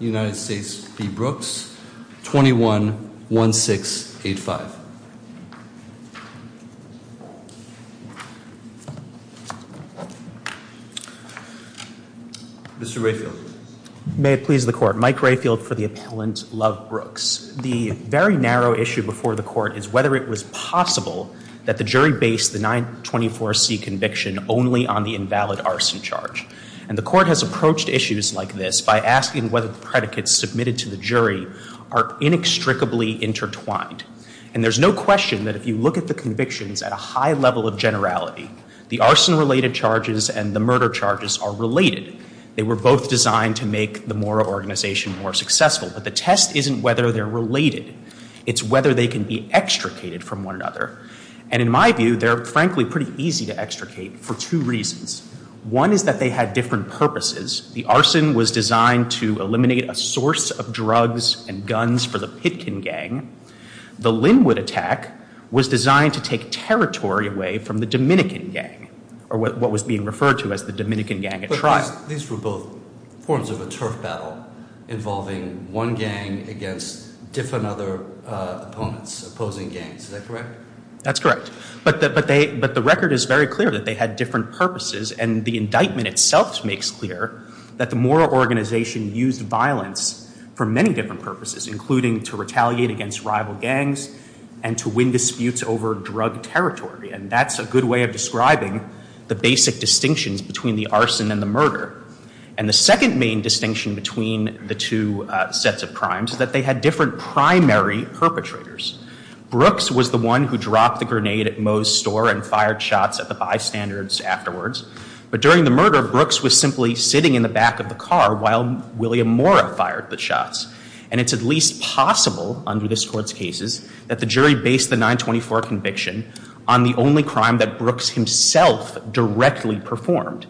United States v. Brooks 21-1685 Mr. Rayfield. May it please the court. Mike Rayfield for the appellant Love Brooks. The very narrow issue before the court is whether it was possible that the jury based the 924c conviction only on the invalid arson charge and the court has predicates submitted to the jury are inextricably intertwined. And there's no question that if you look at the convictions at a high level of generality, the arson related charges and the murder charges are related. They were both designed to make the Mora organization more successful. But the test isn't whether they're related. It's whether they can be extricated from one another. And in my view, they're frankly pretty easy to extricate for two reasons. One is that they had different purposes. The arson was designed to eliminate a source of drugs and guns for the Pitkin gang. The Linwood attack was designed to take territory away from the Dominican gang or what was being referred to as the Dominican gang at trial. These were both forms of a turf battle involving one gang against different other opponents, opposing gangs. Is that correct? That's correct. But the record is very clear that they had different purposes and the indictment itself makes clear that the Mora organization used violence for many different purposes, including to retaliate against rival gangs and to win disputes over drug territory. And that's a good way of describing the basic distinctions between the arson and the murder. And the second main distinction between the two sets of crimes is that they had different primary perpetrators. Brooks was the one who afterwards. But during the murder, Brooks was simply sitting in the back of the car while William Mora fired the shots. And it's at least possible under this Court's cases that the jury based the 924 conviction on the only crime that Brooks himself directly performed.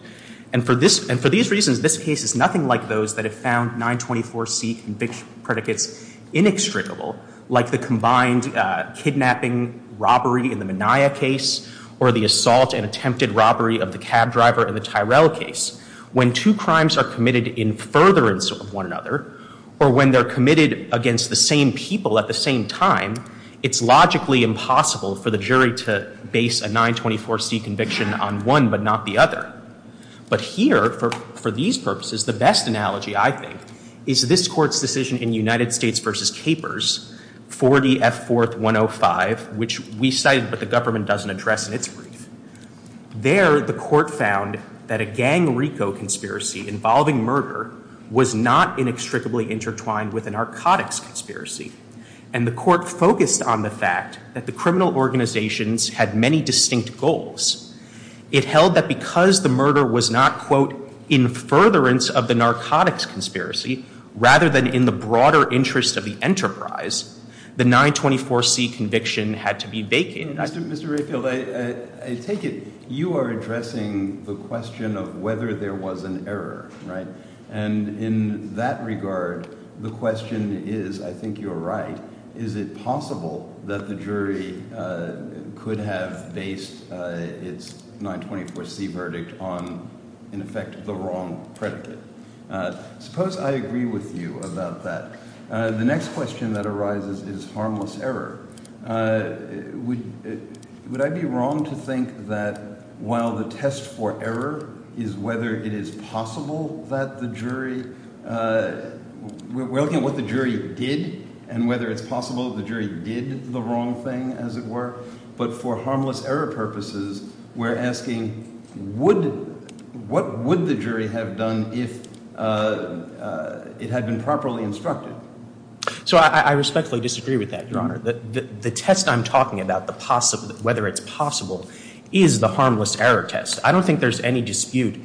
And for these reasons, this case is nothing like those that have found 924C predicates inextricable, like the combined kidnapping, robbery in the Minaya case or the assault and attempted robbery of the cab driver in the Tyrell case. When two crimes are committed in furtherance of one another or when they're committed against the same people at the same time, it's logically impossible for the jury to base a 924C conviction on one but not the other. But here, for these purposes, the best analogy, I think, is this Court's decision in United States v. Capers, 40 F. 4th 105, which we cited but the government doesn't address in its brief. There, the Court found that a gang-rico conspiracy involving murder was not inextricably intertwined with a narcotics conspiracy. And the Court focused on the fact that the criminal organizations had many distinct goals. It held that because the murder was not, quote, in furtherance of the narcotics conspiracy rather than in the broader interest of the enterprise, the 924C conviction had to be vacant. Mr. Rayfield, I take it you are addressing the question of whether there was an error, right? And in that regard, the question is, I think you're right, is it possible that the jury could have based its 924C verdict on, in effect, the wrong predicate? Suppose I agree with you about that. The next question that arises is harmless error. Would I be wrong to think that while the test for error is whether it is possible that the jury, we're looking at what the jury did and whether it's possible the jury did the wrong thing, as it were, but for harmless error purposes, we're asking, what would the jury have done if it had been properly instructed? So I respectfully disagree with that, Your Honor. The test I'm talking about, whether it's possible, is the harmless error test. I don't think there's any dispute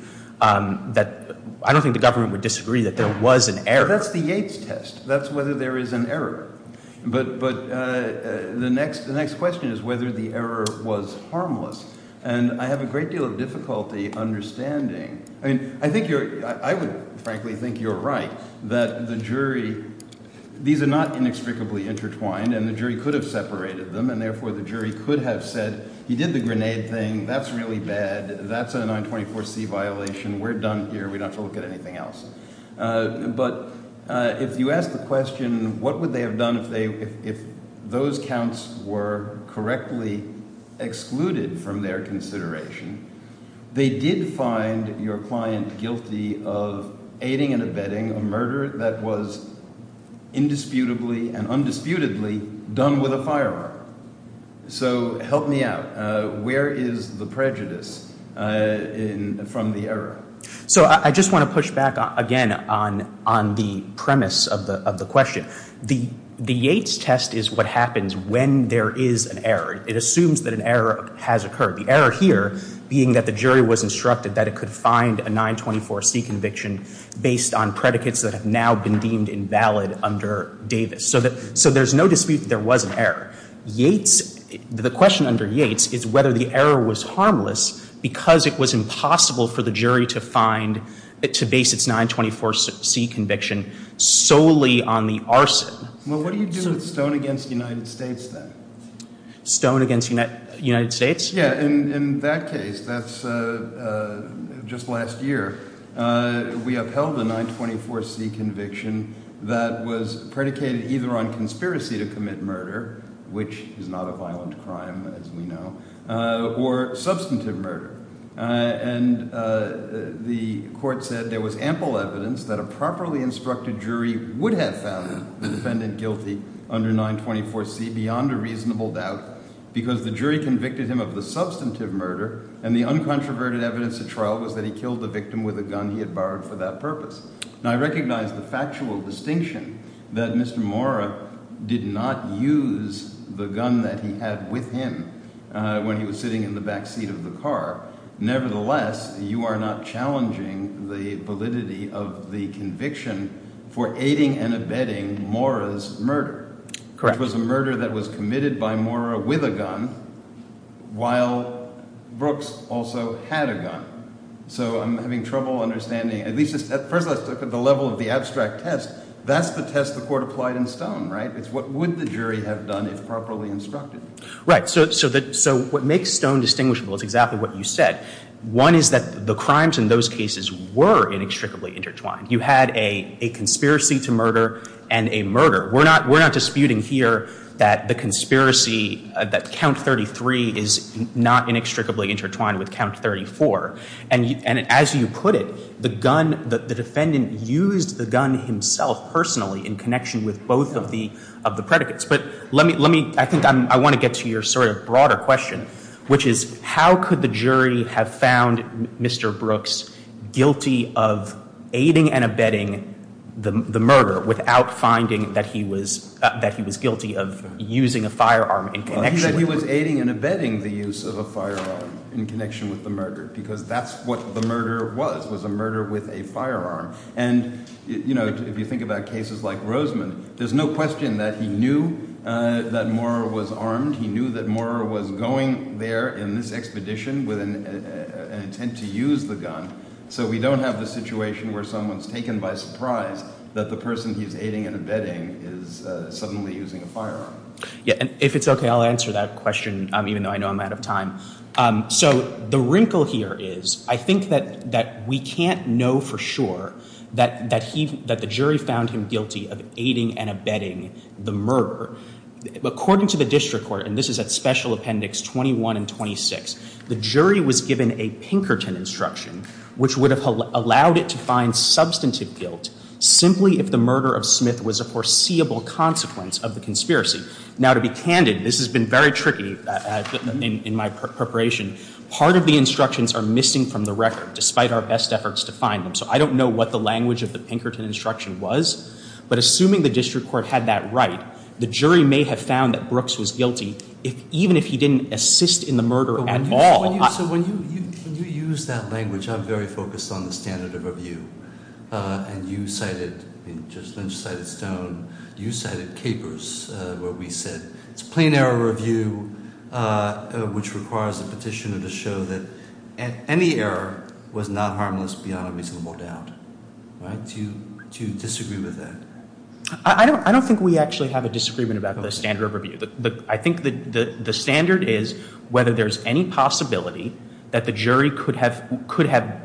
that, I don't think the government would disagree that there was an error. That's the Yates test. That's whether there is an error. But the next question is whether the And I have a great deal of difficulty understanding, I mean, I think you're, I would frankly think you're right, that the jury, these are not inextricably intertwined, and the jury could have separated them, and therefore the jury could have said, he did the grenade thing, that's really bad, that's a 924C violation, we're done here, we don't have to look at anything else. But if you ask the question, what would they have done if they, if those counts were correctly excluded from their consideration, they did find your client guilty of aiding and abetting a murder that was indisputably and undisputedly done with a firearm. So help me out. Where is the prejudice from the error? So I just want to push back again on the premise of the question. The Yates test is what happens when there is an error. It assumes that an error has occurred. The error here being that the jury was instructed that it could find a 924C conviction based on predicates that have now been deemed invalid under Davis. So there's no dispute that there was an error. Yates, the question under Yates is whether the error was harmless because it was impossible for the jury to find, to base its 924C conviction solely on the arson. Well, what do you do with Stone against United States then? Stone against United States? Yeah, in that case, that's just last year, we upheld a 924C conviction that was predicated either on conspiracy to commit murder, which is not a violent crime as we know, or substantive murder. And the court said there was ample evidence that a instructed jury would have found the defendant guilty under 924C beyond a reasonable doubt because the jury convicted him of the substantive murder and the uncontroverted evidence at trial was that he killed the victim with a gun he had borrowed for that purpose. Now I recognize the factual distinction that Mr. Mora did not use the gun that he had with him when he was sitting in the back seat of the car. Nevertheless, you are not challenging the validity of the conviction for aiding and abetting Mora's murder, which was a murder that was committed by Mora with a gun while Brooks also had a gun. So I'm having trouble understanding, at least at first glance, the level of the abstract test, that's the test the court applied in Stone, right? It's what would the jury have done if properly instructed? Right, so what makes Stone distinguishable is exactly what you said. One is that the two cases were inextricably intertwined. You had a conspiracy to murder and a murder. We're not disputing here that the conspiracy, that count 33 is not inextricably intertwined with count 34. And as you put it, the gun, the defendant used the gun himself personally in connection with both of the predicates. But let me, I think I want to get to your sort of broader question, which is, how could the jury have found Mr. Brooks guilty of aiding and abetting the murder without finding that he was guilty of using a firearm in connection with the murder? He said he was aiding and abetting the use of a firearm in connection with the murder because that's what the murder was, was a murder with a firearm. And if you think about cases like Roseman, there's no question that he knew that Mora was armed. He knew that Mora was going there in this expedition with an intent to use the gun. So we don't have the situation where someone's taken by surprise that the person he's aiding and abetting is suddenly using a firearm. Yeah. And if it's okay, I'll answer that question, even though I know I'm out of time. So the wrinkle here is, I think that we can't know for sure that the jury found him guilty of against. So what I would propose to do would be, as opposed to what the Court Madam Brie did, even if he didn't assist in the murder at all. So when you use that language, I'm very focused on the standard of review. And you cited, Judge Lynch cited Stone, you cited Capers, where we said it's plain error review, which requires a petitioner to show that any error was not harmless beyond a reasonable doubt. Do you disagree with that? I don't think we actually have a disagreement about the standard of review. I think the standard is whether there's any possibility that the jury could have,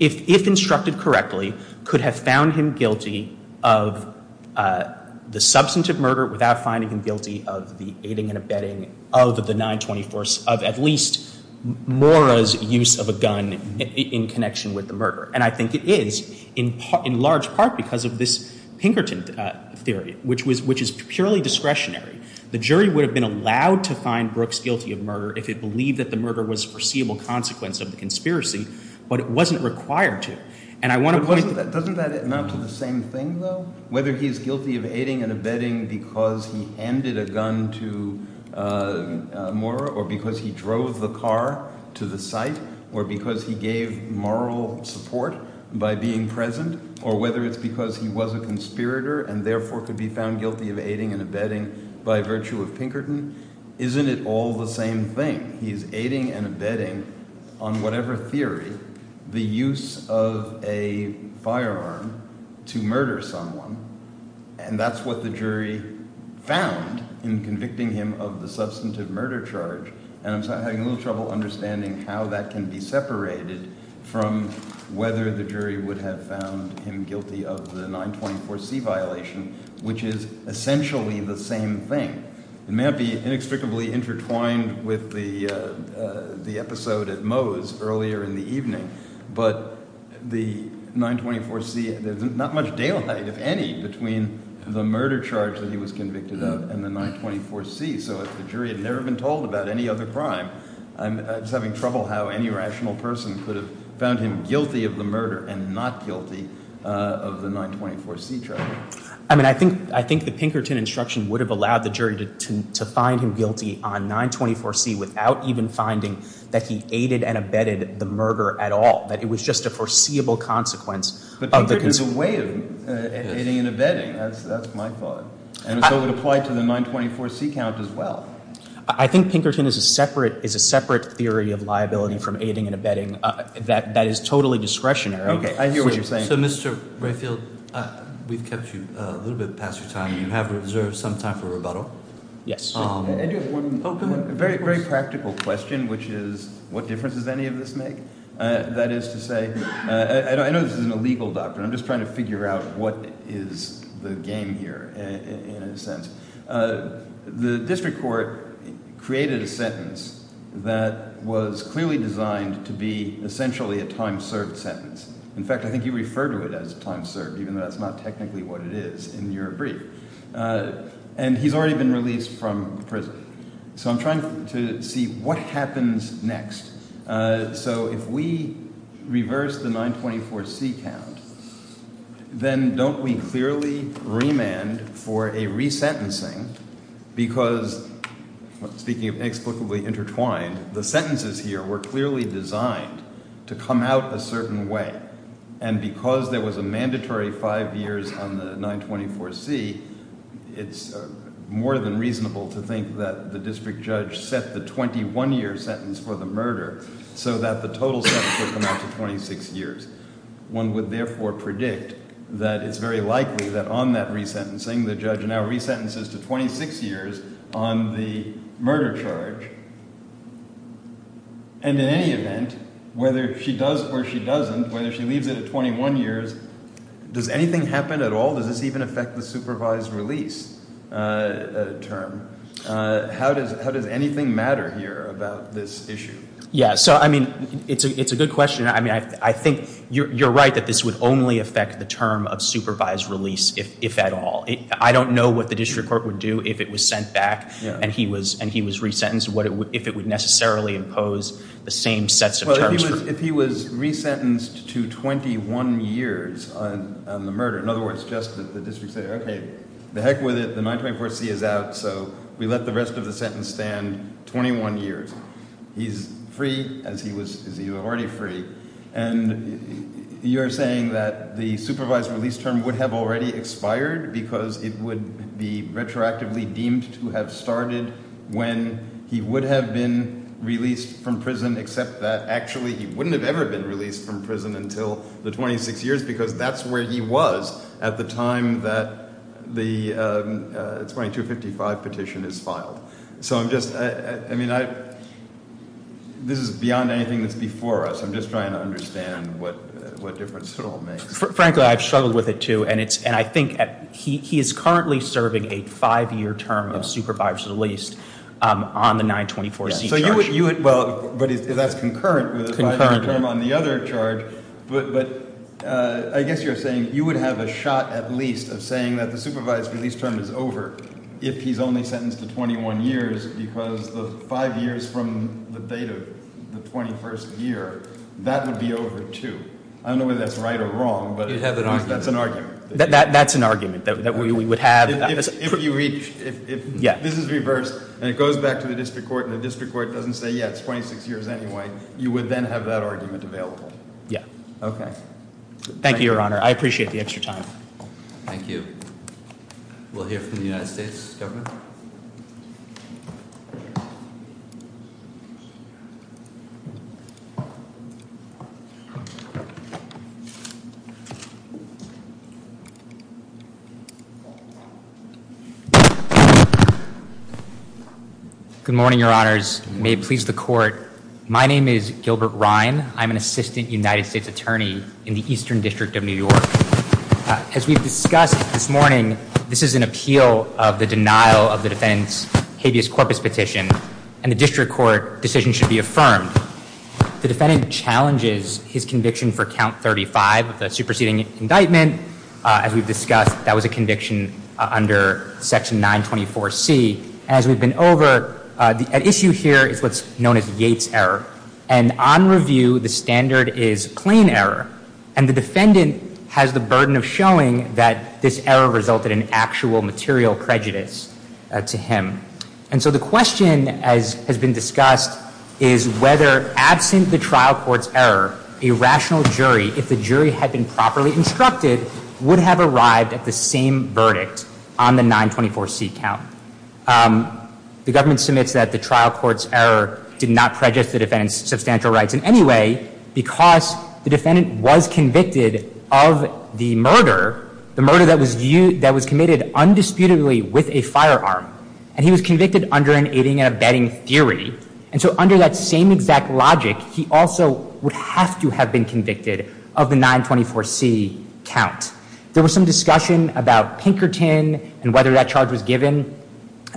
if instructed correctly, could have found him guilty of the substantive murder without finding him guilty of the aiding and abetting of the 924, of at least Mora's use of a gun in connection with the murder. And I think it is, in large part because of this Pinkerton theory, which is purely discretionary. The jury would have been allowed to find Brooks guilty of murder if it believed that the murder was a foreseeable consequence of the conspiracy, but it wasn't required to. And I want to point to— But doesn't that amount to the same thing, though? Whether he's guilty of aiding and abetting because he handed a gun to Mora or because he drove the car to the site or because he gave moral support by being present or whether it's because he was a conspirator and therefore could be found guilty of aiding and abetting by virtue of Pinkerton. Isn't it all the same thing? He's aiding and abetting, on whatever theory, the use of a firearm to murder someone, and that's what the jury found in convicting him of the substantive murder charge. And I'm having a little trouble understanding how that can be separated from whether the jury would have found him guilty of the 924C violation, which is essentially the same thing. It may not be inextricably intertwined with the episode at Moe's earlier in the evening, but the 924C, there's not much daylight, if any, between the murder charge that he was convicted of and the 924C. So if the jury had never been told about any other crime, I'm just having trouble how any rational person could have found him guilty of the murder and not guilty of the 924C charge. I mean, I think the Pinkerton instruction would have allowed the jury to find him guilty on 924C without even finding that he aided and abetted the murder at all, that it was just a foreseeable consequence. But Pinkerton is a way of aiding and abetting. That's my thought. And so it would apply to the 924C count as well. I think Pinkerton is a separate theory of liability from aiding and abetting that is totally discretionary. Okay, I hear what you're saying. So, Mr. Rayfield, we've kept you a little bit past your time. You have reserved some time for rebuttal. Yes. I do have one very practical question, which is what difference does any of this make? That is to say, I know this isn't a legal doctrine. I'm just trying to figure out what is the game here in a sense. The district court created a sentence that was clearly designed to be essentially a time-served sentence. In fact, I think you refer to it as time-served even though that's not technically what it is in your brief. And he's already been released from prison. So I'm trying to see what happens next. So if we reverse the 924C count, then don't we clearly remand for a resentencing because, speaking of inexplicably intertwined, the sentences here were clearly designed to come out a certain way. And because there was a mandatory five years on the 924C, it's more than reasonable to think that the district judge set the 21-year sentence for the murder so that the total sentence would come out to 26 years. One would therefore predict that it's very likely that on that resentencing the judge now resentences to 26 years on the murder charge. And in any event, whether she does or she doesn't, whether she leaves it at 21 years, does anything happen at all? Does this even affect the supervised release term? How does anything matter here about this issue? Yeah. So, I mean, it's a good question. I mean, I think you're right that this would only affect the term of supervised release if at all. I don't know what the district court would do if it was sent back and he was resentenced. If it would necessarily impose the same sets of terms. Well, if he was resentenced to 21 years on the murder, in other words, just the district said, okay, the heck with it. The 924C is out, so we let the rest of the sentence stand 21 years. He's free as he was already free. And you're saying that the supervised release term would have already expired because it would be retroactively deemed to have started when he would have been released from prison. Except that actually he wouldn't have ever been released from prison until the 26 years because that's where he was at the time that the 2255 petition is filed. So I'm just, I mean, this is beyond anything that's before us. I'm just trying to understand what difference it all makes. Frankly, I've struggled with it, too. And I think he is currently serving a five-year term of supervised release on the 924C charge. Well, but that's concurrent with the five-year term on the other charge. But I guess you're saying you would have a shot at least of saying that the supervised release term is over if he's only sentenced to 21 years because the five years from the date of the 21st year, that would be over, too. I don't know whether that's right or wrong, but that's an argument. That's an argument that we would have. If this is reversed and it goes back to the district court and the district court doesn't say, yeah, it's 26 years anyway, you would then have that argument available. Yeah. Okay. Thank you, Your Honor. I appreciate the extra time. Thank you. We'll hear from the United States government. Good morning, Your Honors. May it please the court. My name is Gilbert Ryan. I'm an assistant United States attorney in the Eastern District of New York. As we've discussed this morning, this is an appeal of the denial of the defendant's habeas corpus petition, and the district court decision should be affirmed. The defendant challenges his conviction for count 35 of the superseding indictment. As we've discussed, that was a conviction under Section 924C. As we've been over, an issue here is what's known as Yates' error. And on review, the standard is plain error. And the defendant has the burden of showing that this error resulted in actual material prejudice to him. And so the question, as has been discussed, is whether, absent the trial court's error, a rational jury, if the jury had been properly instructed, would have arrived at the same verdict on the 924C count. The government submits that the trial court's error did not prejudice the defendant's substantial rights in any way because the defendant was convicted of the murder, the murder that was committed undisputedly with a firearm. And he was convicted under an aiding and abetting theory. And so under that same exact logic, he also would have to have been convicted of the 924C count. There was some discussion about Pinkerton and whether that charge was given.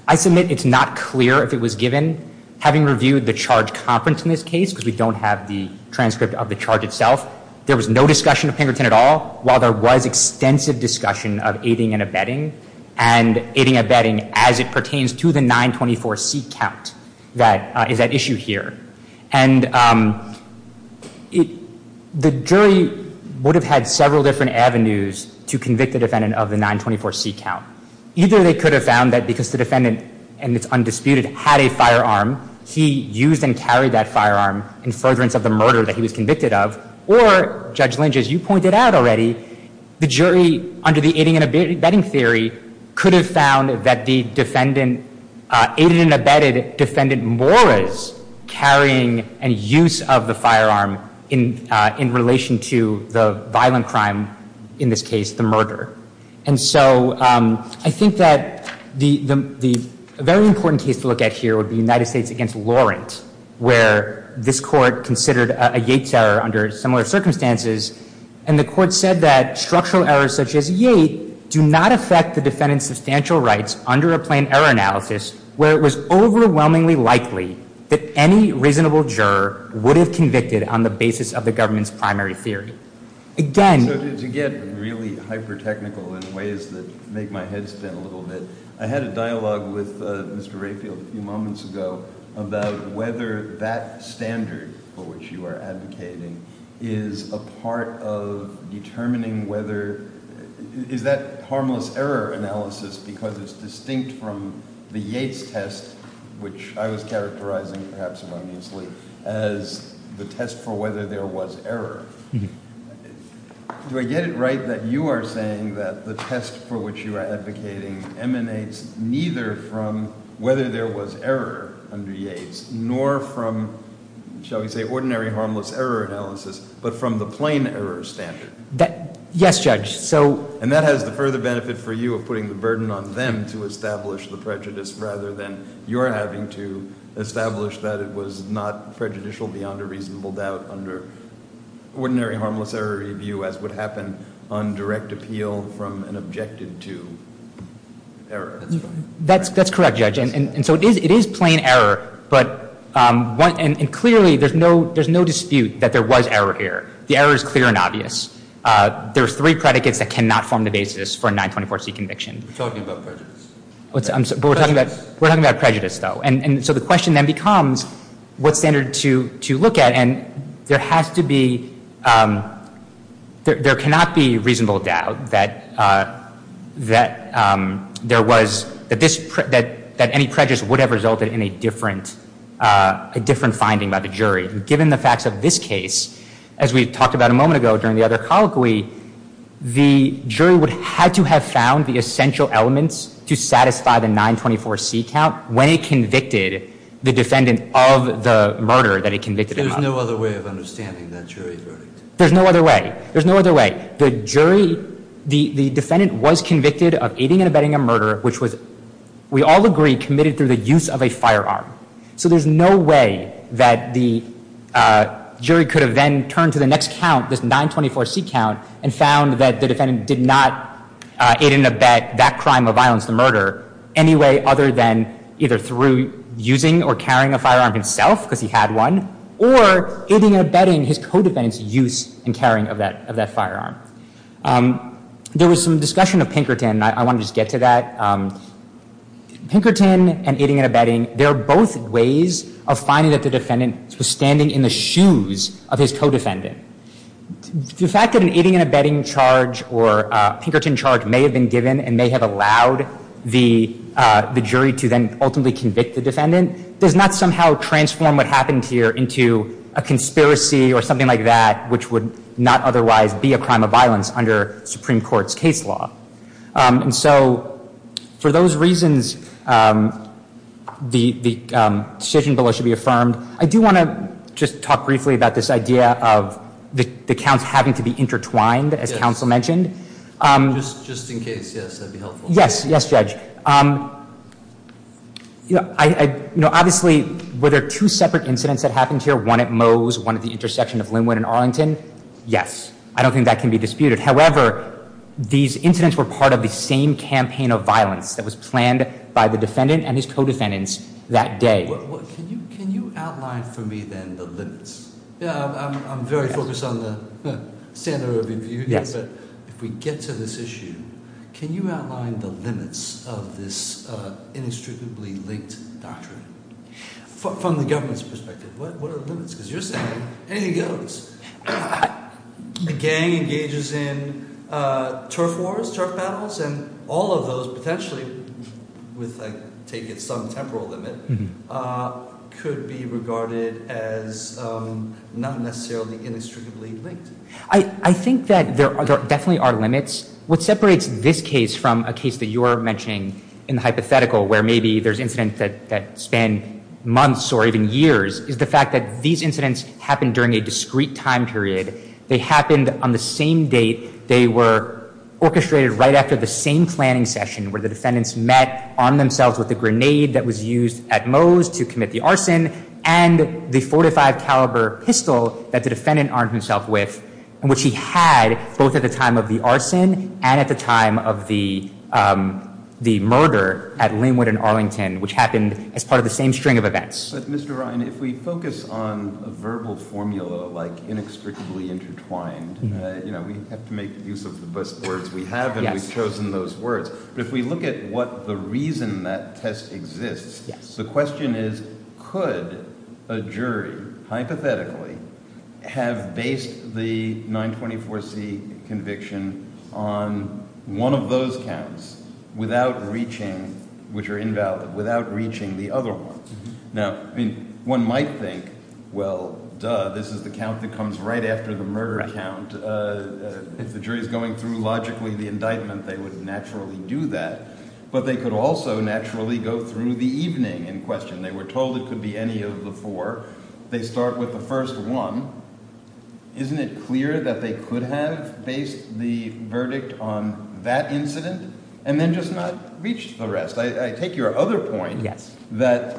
I submit it's not clear if it was given. Having reviewed the charge conference in this case, because we don't have the transcript of the charge itself, there was no discussion of Pinkerton at all, while there was extensive discussion of aiding and abetting, and aiding and abetting as it pertains to the 924C count that is at issue here. And the jury would have had several different avenues to convict the defendant of the 924C count. Either they could have found that because the defendant, and it's undisputed, had a firearm, he used and carried that firearm in furtherance of the murder that he was convicted of. Or, Judge Lynch, as you pointed out already, the jury, under the aiding and abetting theory, could have found that the defendant, aided and abetted Defendant Morris, carrying and use of the firearm in relation to the violent crime in this case, the murder. And so I think that the very important case to look at here would be United States v. Laurent, where this Court considered a Yates error under similar circumstances, and the Court said that structural errors such as Yates do not affect the defendant's substantial rights under a plain error analysis where it was overwhelmingly likely that any reasonable juror would have convicted on the basis of the government's primary theory. So to get really hyper-technical in ways that make my head spin a little bit, I had a dialogue with Mr. Rayfield a few moments ago about whether that standard for which you are advocating is a part of determining whether, is that harmless error analysis because it's distinct from the Yates test, which I was characterizing, perhaps erroneously, as the test for whether there was error. Do I get it right that you are saying that the test for which you are advocating emanates neither from whether there was error under Yates nor from, shall we say, ordinary harmless error analysis, but from the plain error standard? Yes, Judge. And that has the further benefit for you of putting the burden on them to establish the prejudice rather than your having to establish that it was not prejudicial beyond a reasonable doubt under ordinary harmless error review as would happen on direct appeal from an objective to error. That's correct, Judge. And so it is plain error, and clearly there's no dispute that there was error here. The error is clear and obvious. There are three predicates that cannot form the basis for a 924C conviction. We're talking about prejudice. We're talking about prejudice, though. And so the question then becomes what standard to look at. And there has to be, there cannot be reasonable doubt that there was, that any prejudice would have resulted in a different finding by the jury. Given the facts of this case, as we talked about a moment ago during the other colloquy, the jury would have to have found the essential elements to satisfy the 924C count when it convicted the defendant of the murder that it convicted him of. There's no other way of understanding that jury verdict. There's no other way. There's no other way. The jury, the defendant was convicted of aiding and abetting a murder, which was, we all agree, committed through the use of a firearm. So there's no way that the jury could have then turned to the next count, this 924C count, and found that the defendant did not aid and abet that crime of violence, the murder, any way other than either through using or carrying a firearm himself, because he had one, or aiding and abetting his co-defendant's use and carrying of that firearm. There was some discussion of Pinkerton, and I want to just get to that. Pinkerton and aiding and abetting, they're both ways of finding that the defendant was standing in the shoes of his co-defendant. The fact that an aiding and abetting charge or Pinkerton charge may have been given and may have allowed the jury to then ultimately convict the defendant does not somehow transform what happened here into a conspiracy or something like that which would not otherwise be a crime of violence under Supreme Court's case law. And so for those reasons, the decision below should be affirmed. I do want to just talk briefly about this idea of the counts having to be intertwined, as counsel mentioned. Just in case, yes, that would be helpful. Yes, yes, Judge. Obviously, were there two separate incidents that happened here, one at Moe's, one at the intersection of Linwood and Arlington? Yes. I don't think that can be disputed. However, these incidents were part of the same campaign of violence that was planned by the defendant and his co-defendants that day. Can you outline for me, then, the limits? I'm very focused on the standard of review, but if we get to this issue, can you outline the limits of this inextricably linked doctrine? From the government's perspective, what are the limits? Because you're saying anything goes. The gang engages in turf wars, turf battles, and all of those potentially, with, I take it, some temporal limit, could be regarded as not necessarily inextricably linked. I think that there definitely are limits. What separates this case from a case that you're mentioning in the hypothetical where maybe there's incidents that span months or even years is the fact that these incidents happened during a discrete time period. They happened on the same date. They were orchestrated right after the same planning session where the defendants met, armed themselves with the grenade that was used at Moe's to commit the arson, and the .45 caliber pistol that the defendant armed himself with, which he had both at the time of the arson and at the time of the murder at Linwood and Arlington, which happened as part of the same string of events. But, Mr. Ryan, if we focus on a verbal formula like inextricably intertwined, we have to make use of the best words we have, and we've chosen those words. But if we look at what the reason that test exists, the question is could a jury hypothetically have based the 924C conviction on one of those counts without reaching, which are invalid, without reaching the other one? Now, one might think, well, duh, this is the count that comes right after the murder count. If the jury is going through logically the indictment, they would naturally do that. But they could also naturally go through the evening in question. They were told it could be any of the four. They start with the first one. Isn't it clear that they could have based the verdict on that incident and then just not reach the rest? I take your other point that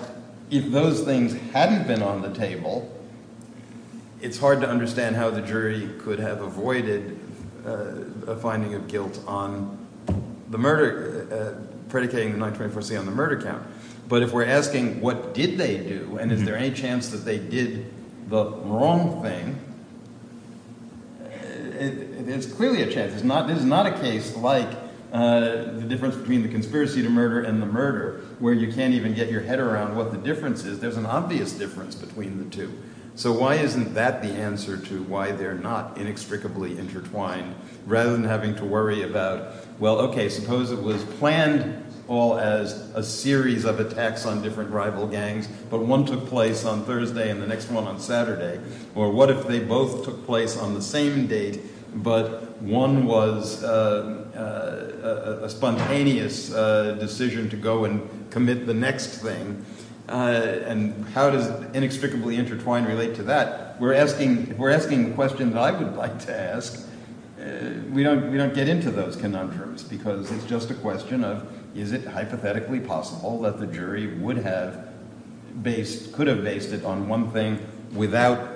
if those things hadn't been on the table, it's hard to understand how the jury could have avoided a finding of guilt on the murder, predicating the 924C on the murder count. But if we're asking what did they do and is there any chance that they did the wrong thing, it's clearly a chance. This is not a case like the difference between the conspiracy to murder and the murder, where you can't even get your head around what the difference is. There's an obvious difference between the two. So why isn't that the answer to why they're not inextricably intertwined? Rather than having to worry about, well, okay, suppose it was planned all as a series of attacks on different rival gangs, but one took place on Thursday and the next one on Saturday. Or what if they both took place on the same date, but one was a spontaneous decision to go and commit the next thing? And how does inextricably intertwined relate to that? If we're asking the questions I would like to ask, we don't get into those conundrums because it's just a question of is it hypothetically possible that the jury would have based, based it on one thing without,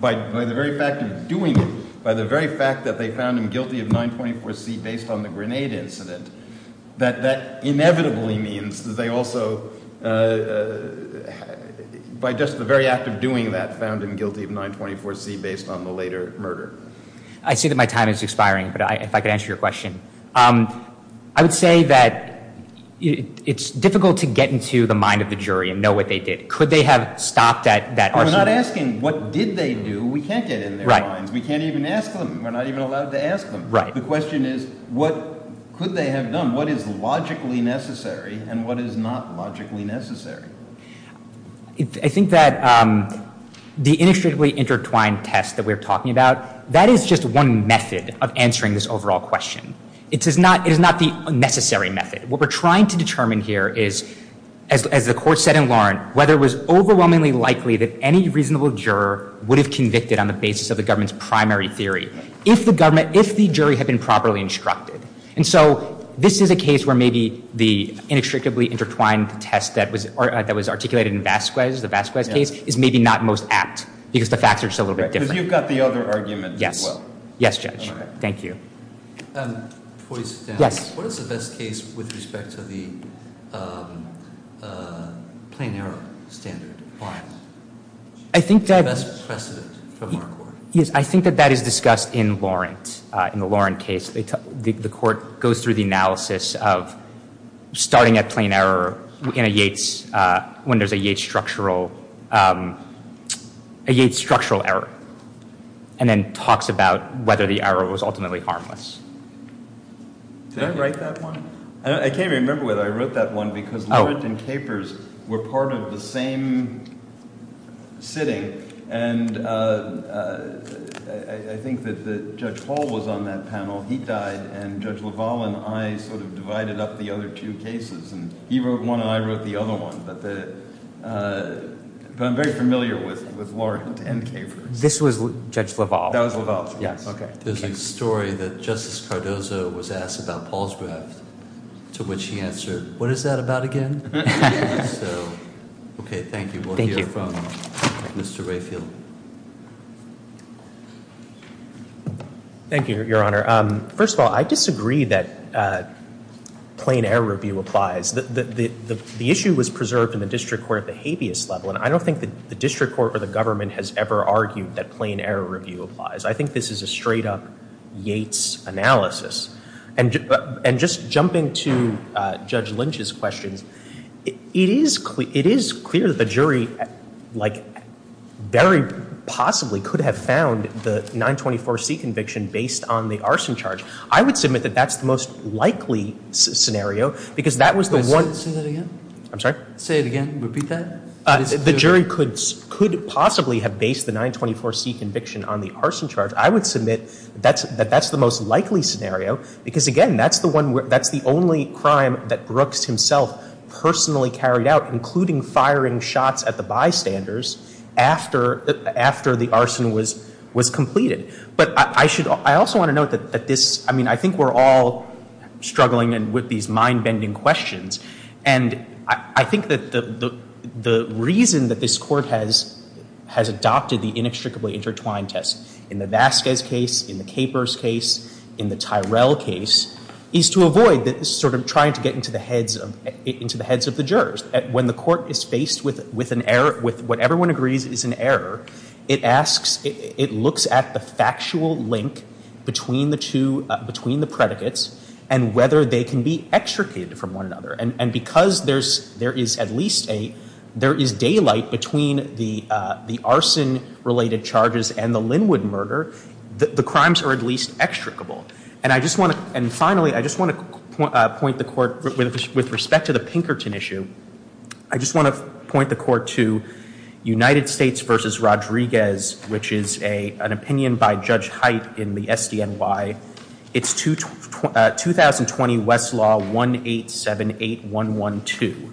by the very fact of doing it, by the very fact that they found him guilty of 924C based on the grenade incident, that that inevitably means that they also, by just the very act of doing that, found him guilty of 924C based on the later murder. I see that my time is expiring, but if I could answer your question. I would say that it's difficult to get into the mind of the jury and know what they did. Could they have stopped at that? We're not asking what did they do. We can't get in their minds. We can't even ask them. We're not even allowed to ask them. The question is what could they have done? What is logically necessary and what is not logically necessary? I think that the inextricably intertwined test that we're talking about, that is just one method of answering this overall question. It is not the necessary method. What we're trying to determine here is, as the court said in Warren, whether it was overwhelmingly likely that any reasonable juror would have convicted on the basis of the government's primary theory if the jury had been properly instructed. And so this is a case where maybe the inextricably intertwined test that was articulated in Vasquez, the Vasquez case, is maybe not most apt because the facts are just a little bit different. But you've got the other argument as well. Yes, Judge. Thank you. Before you sit down, what is the best case with respect to the plain error standard? The best precedent from our court. Yes, I think that that is discussed in the Warren case. The court goes through the analysis of starting at plain error in a Yates, when there's a Yates structural error, and then talks about whether the error was ultimately harmless. Did I write that one? I can't remember whether I wrote that one because Larratt and Capers were part of the same sitting, and I think that Judge Hall was on that panel. He died, and Judge LaValle and I sort of divided up the other two cases, and he wrote one and I wrote the other one. But I'm very familiar with Larratt and Capers. This was Judge LaValle. That was LaValle. There's a story that Justice Cardozo was asked about Paul's graft, to which he answered, What is that about again? Okay, thank you. We'll hear from Mr. Rayfield. Thank you, Your Honor. First of all, I disagree that plain error review applies. The issue was preserved in the district court at the habeas level, and I don't think the district court or the government has ever argued that plain error review applies. I think this is a straight-up Yates analysis. And just jumping to Judge Lynch's questions, it is clear that the jury very possibly could have found the 924C conviction based on the arson charge. I would submit that that's the most likely scenario, because that was the one. Say that again. I'm sorry? Say it again. Repeat that. The jury could possibly have based the 924C conviction on the arson charge. I would submit that that's the most likely scenario, because, again, that's the only crime that Brooks himself personally carried out, including firing shots at the bystanders after the arson was completed. But I also want to note that I think we're all struggling with these mind-bending questions. And I think that the reason that this Court has adopted the inextricably intertwined test in the Vasquez case, in the Capers case, in the Tyrell case, is to avoid sort of trying to get into the heads of the jurors. When the Court is faced with what everyone agrees is an error, it looks at the factual link between the predicates and whether they can be extricated from one another. And because there is daylight between the arson-related charges and the Linwood murder, the crimes are at least extricable. And finally, I just want to point the Court, with respect to the Pinkerton issue, I just want to point the Court to United States v. Rodriguez, which is an opinion by Judge Height in the SDNY. It's 2020 Westlaw 1878112,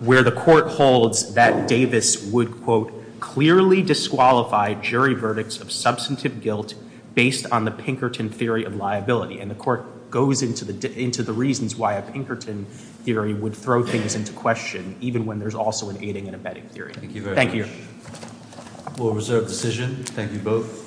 where the Court holds that Davis would, quote, clearly disqualify jury verdicts of substantive guilt based on the Pinkerton theory of liability. And the Court goes into the reasons why a Pinkerton theory would throw things into question, even when there's also an aiding and abetting theory. Thank you very much. Thank you. We'll reserve decision. Thank you both.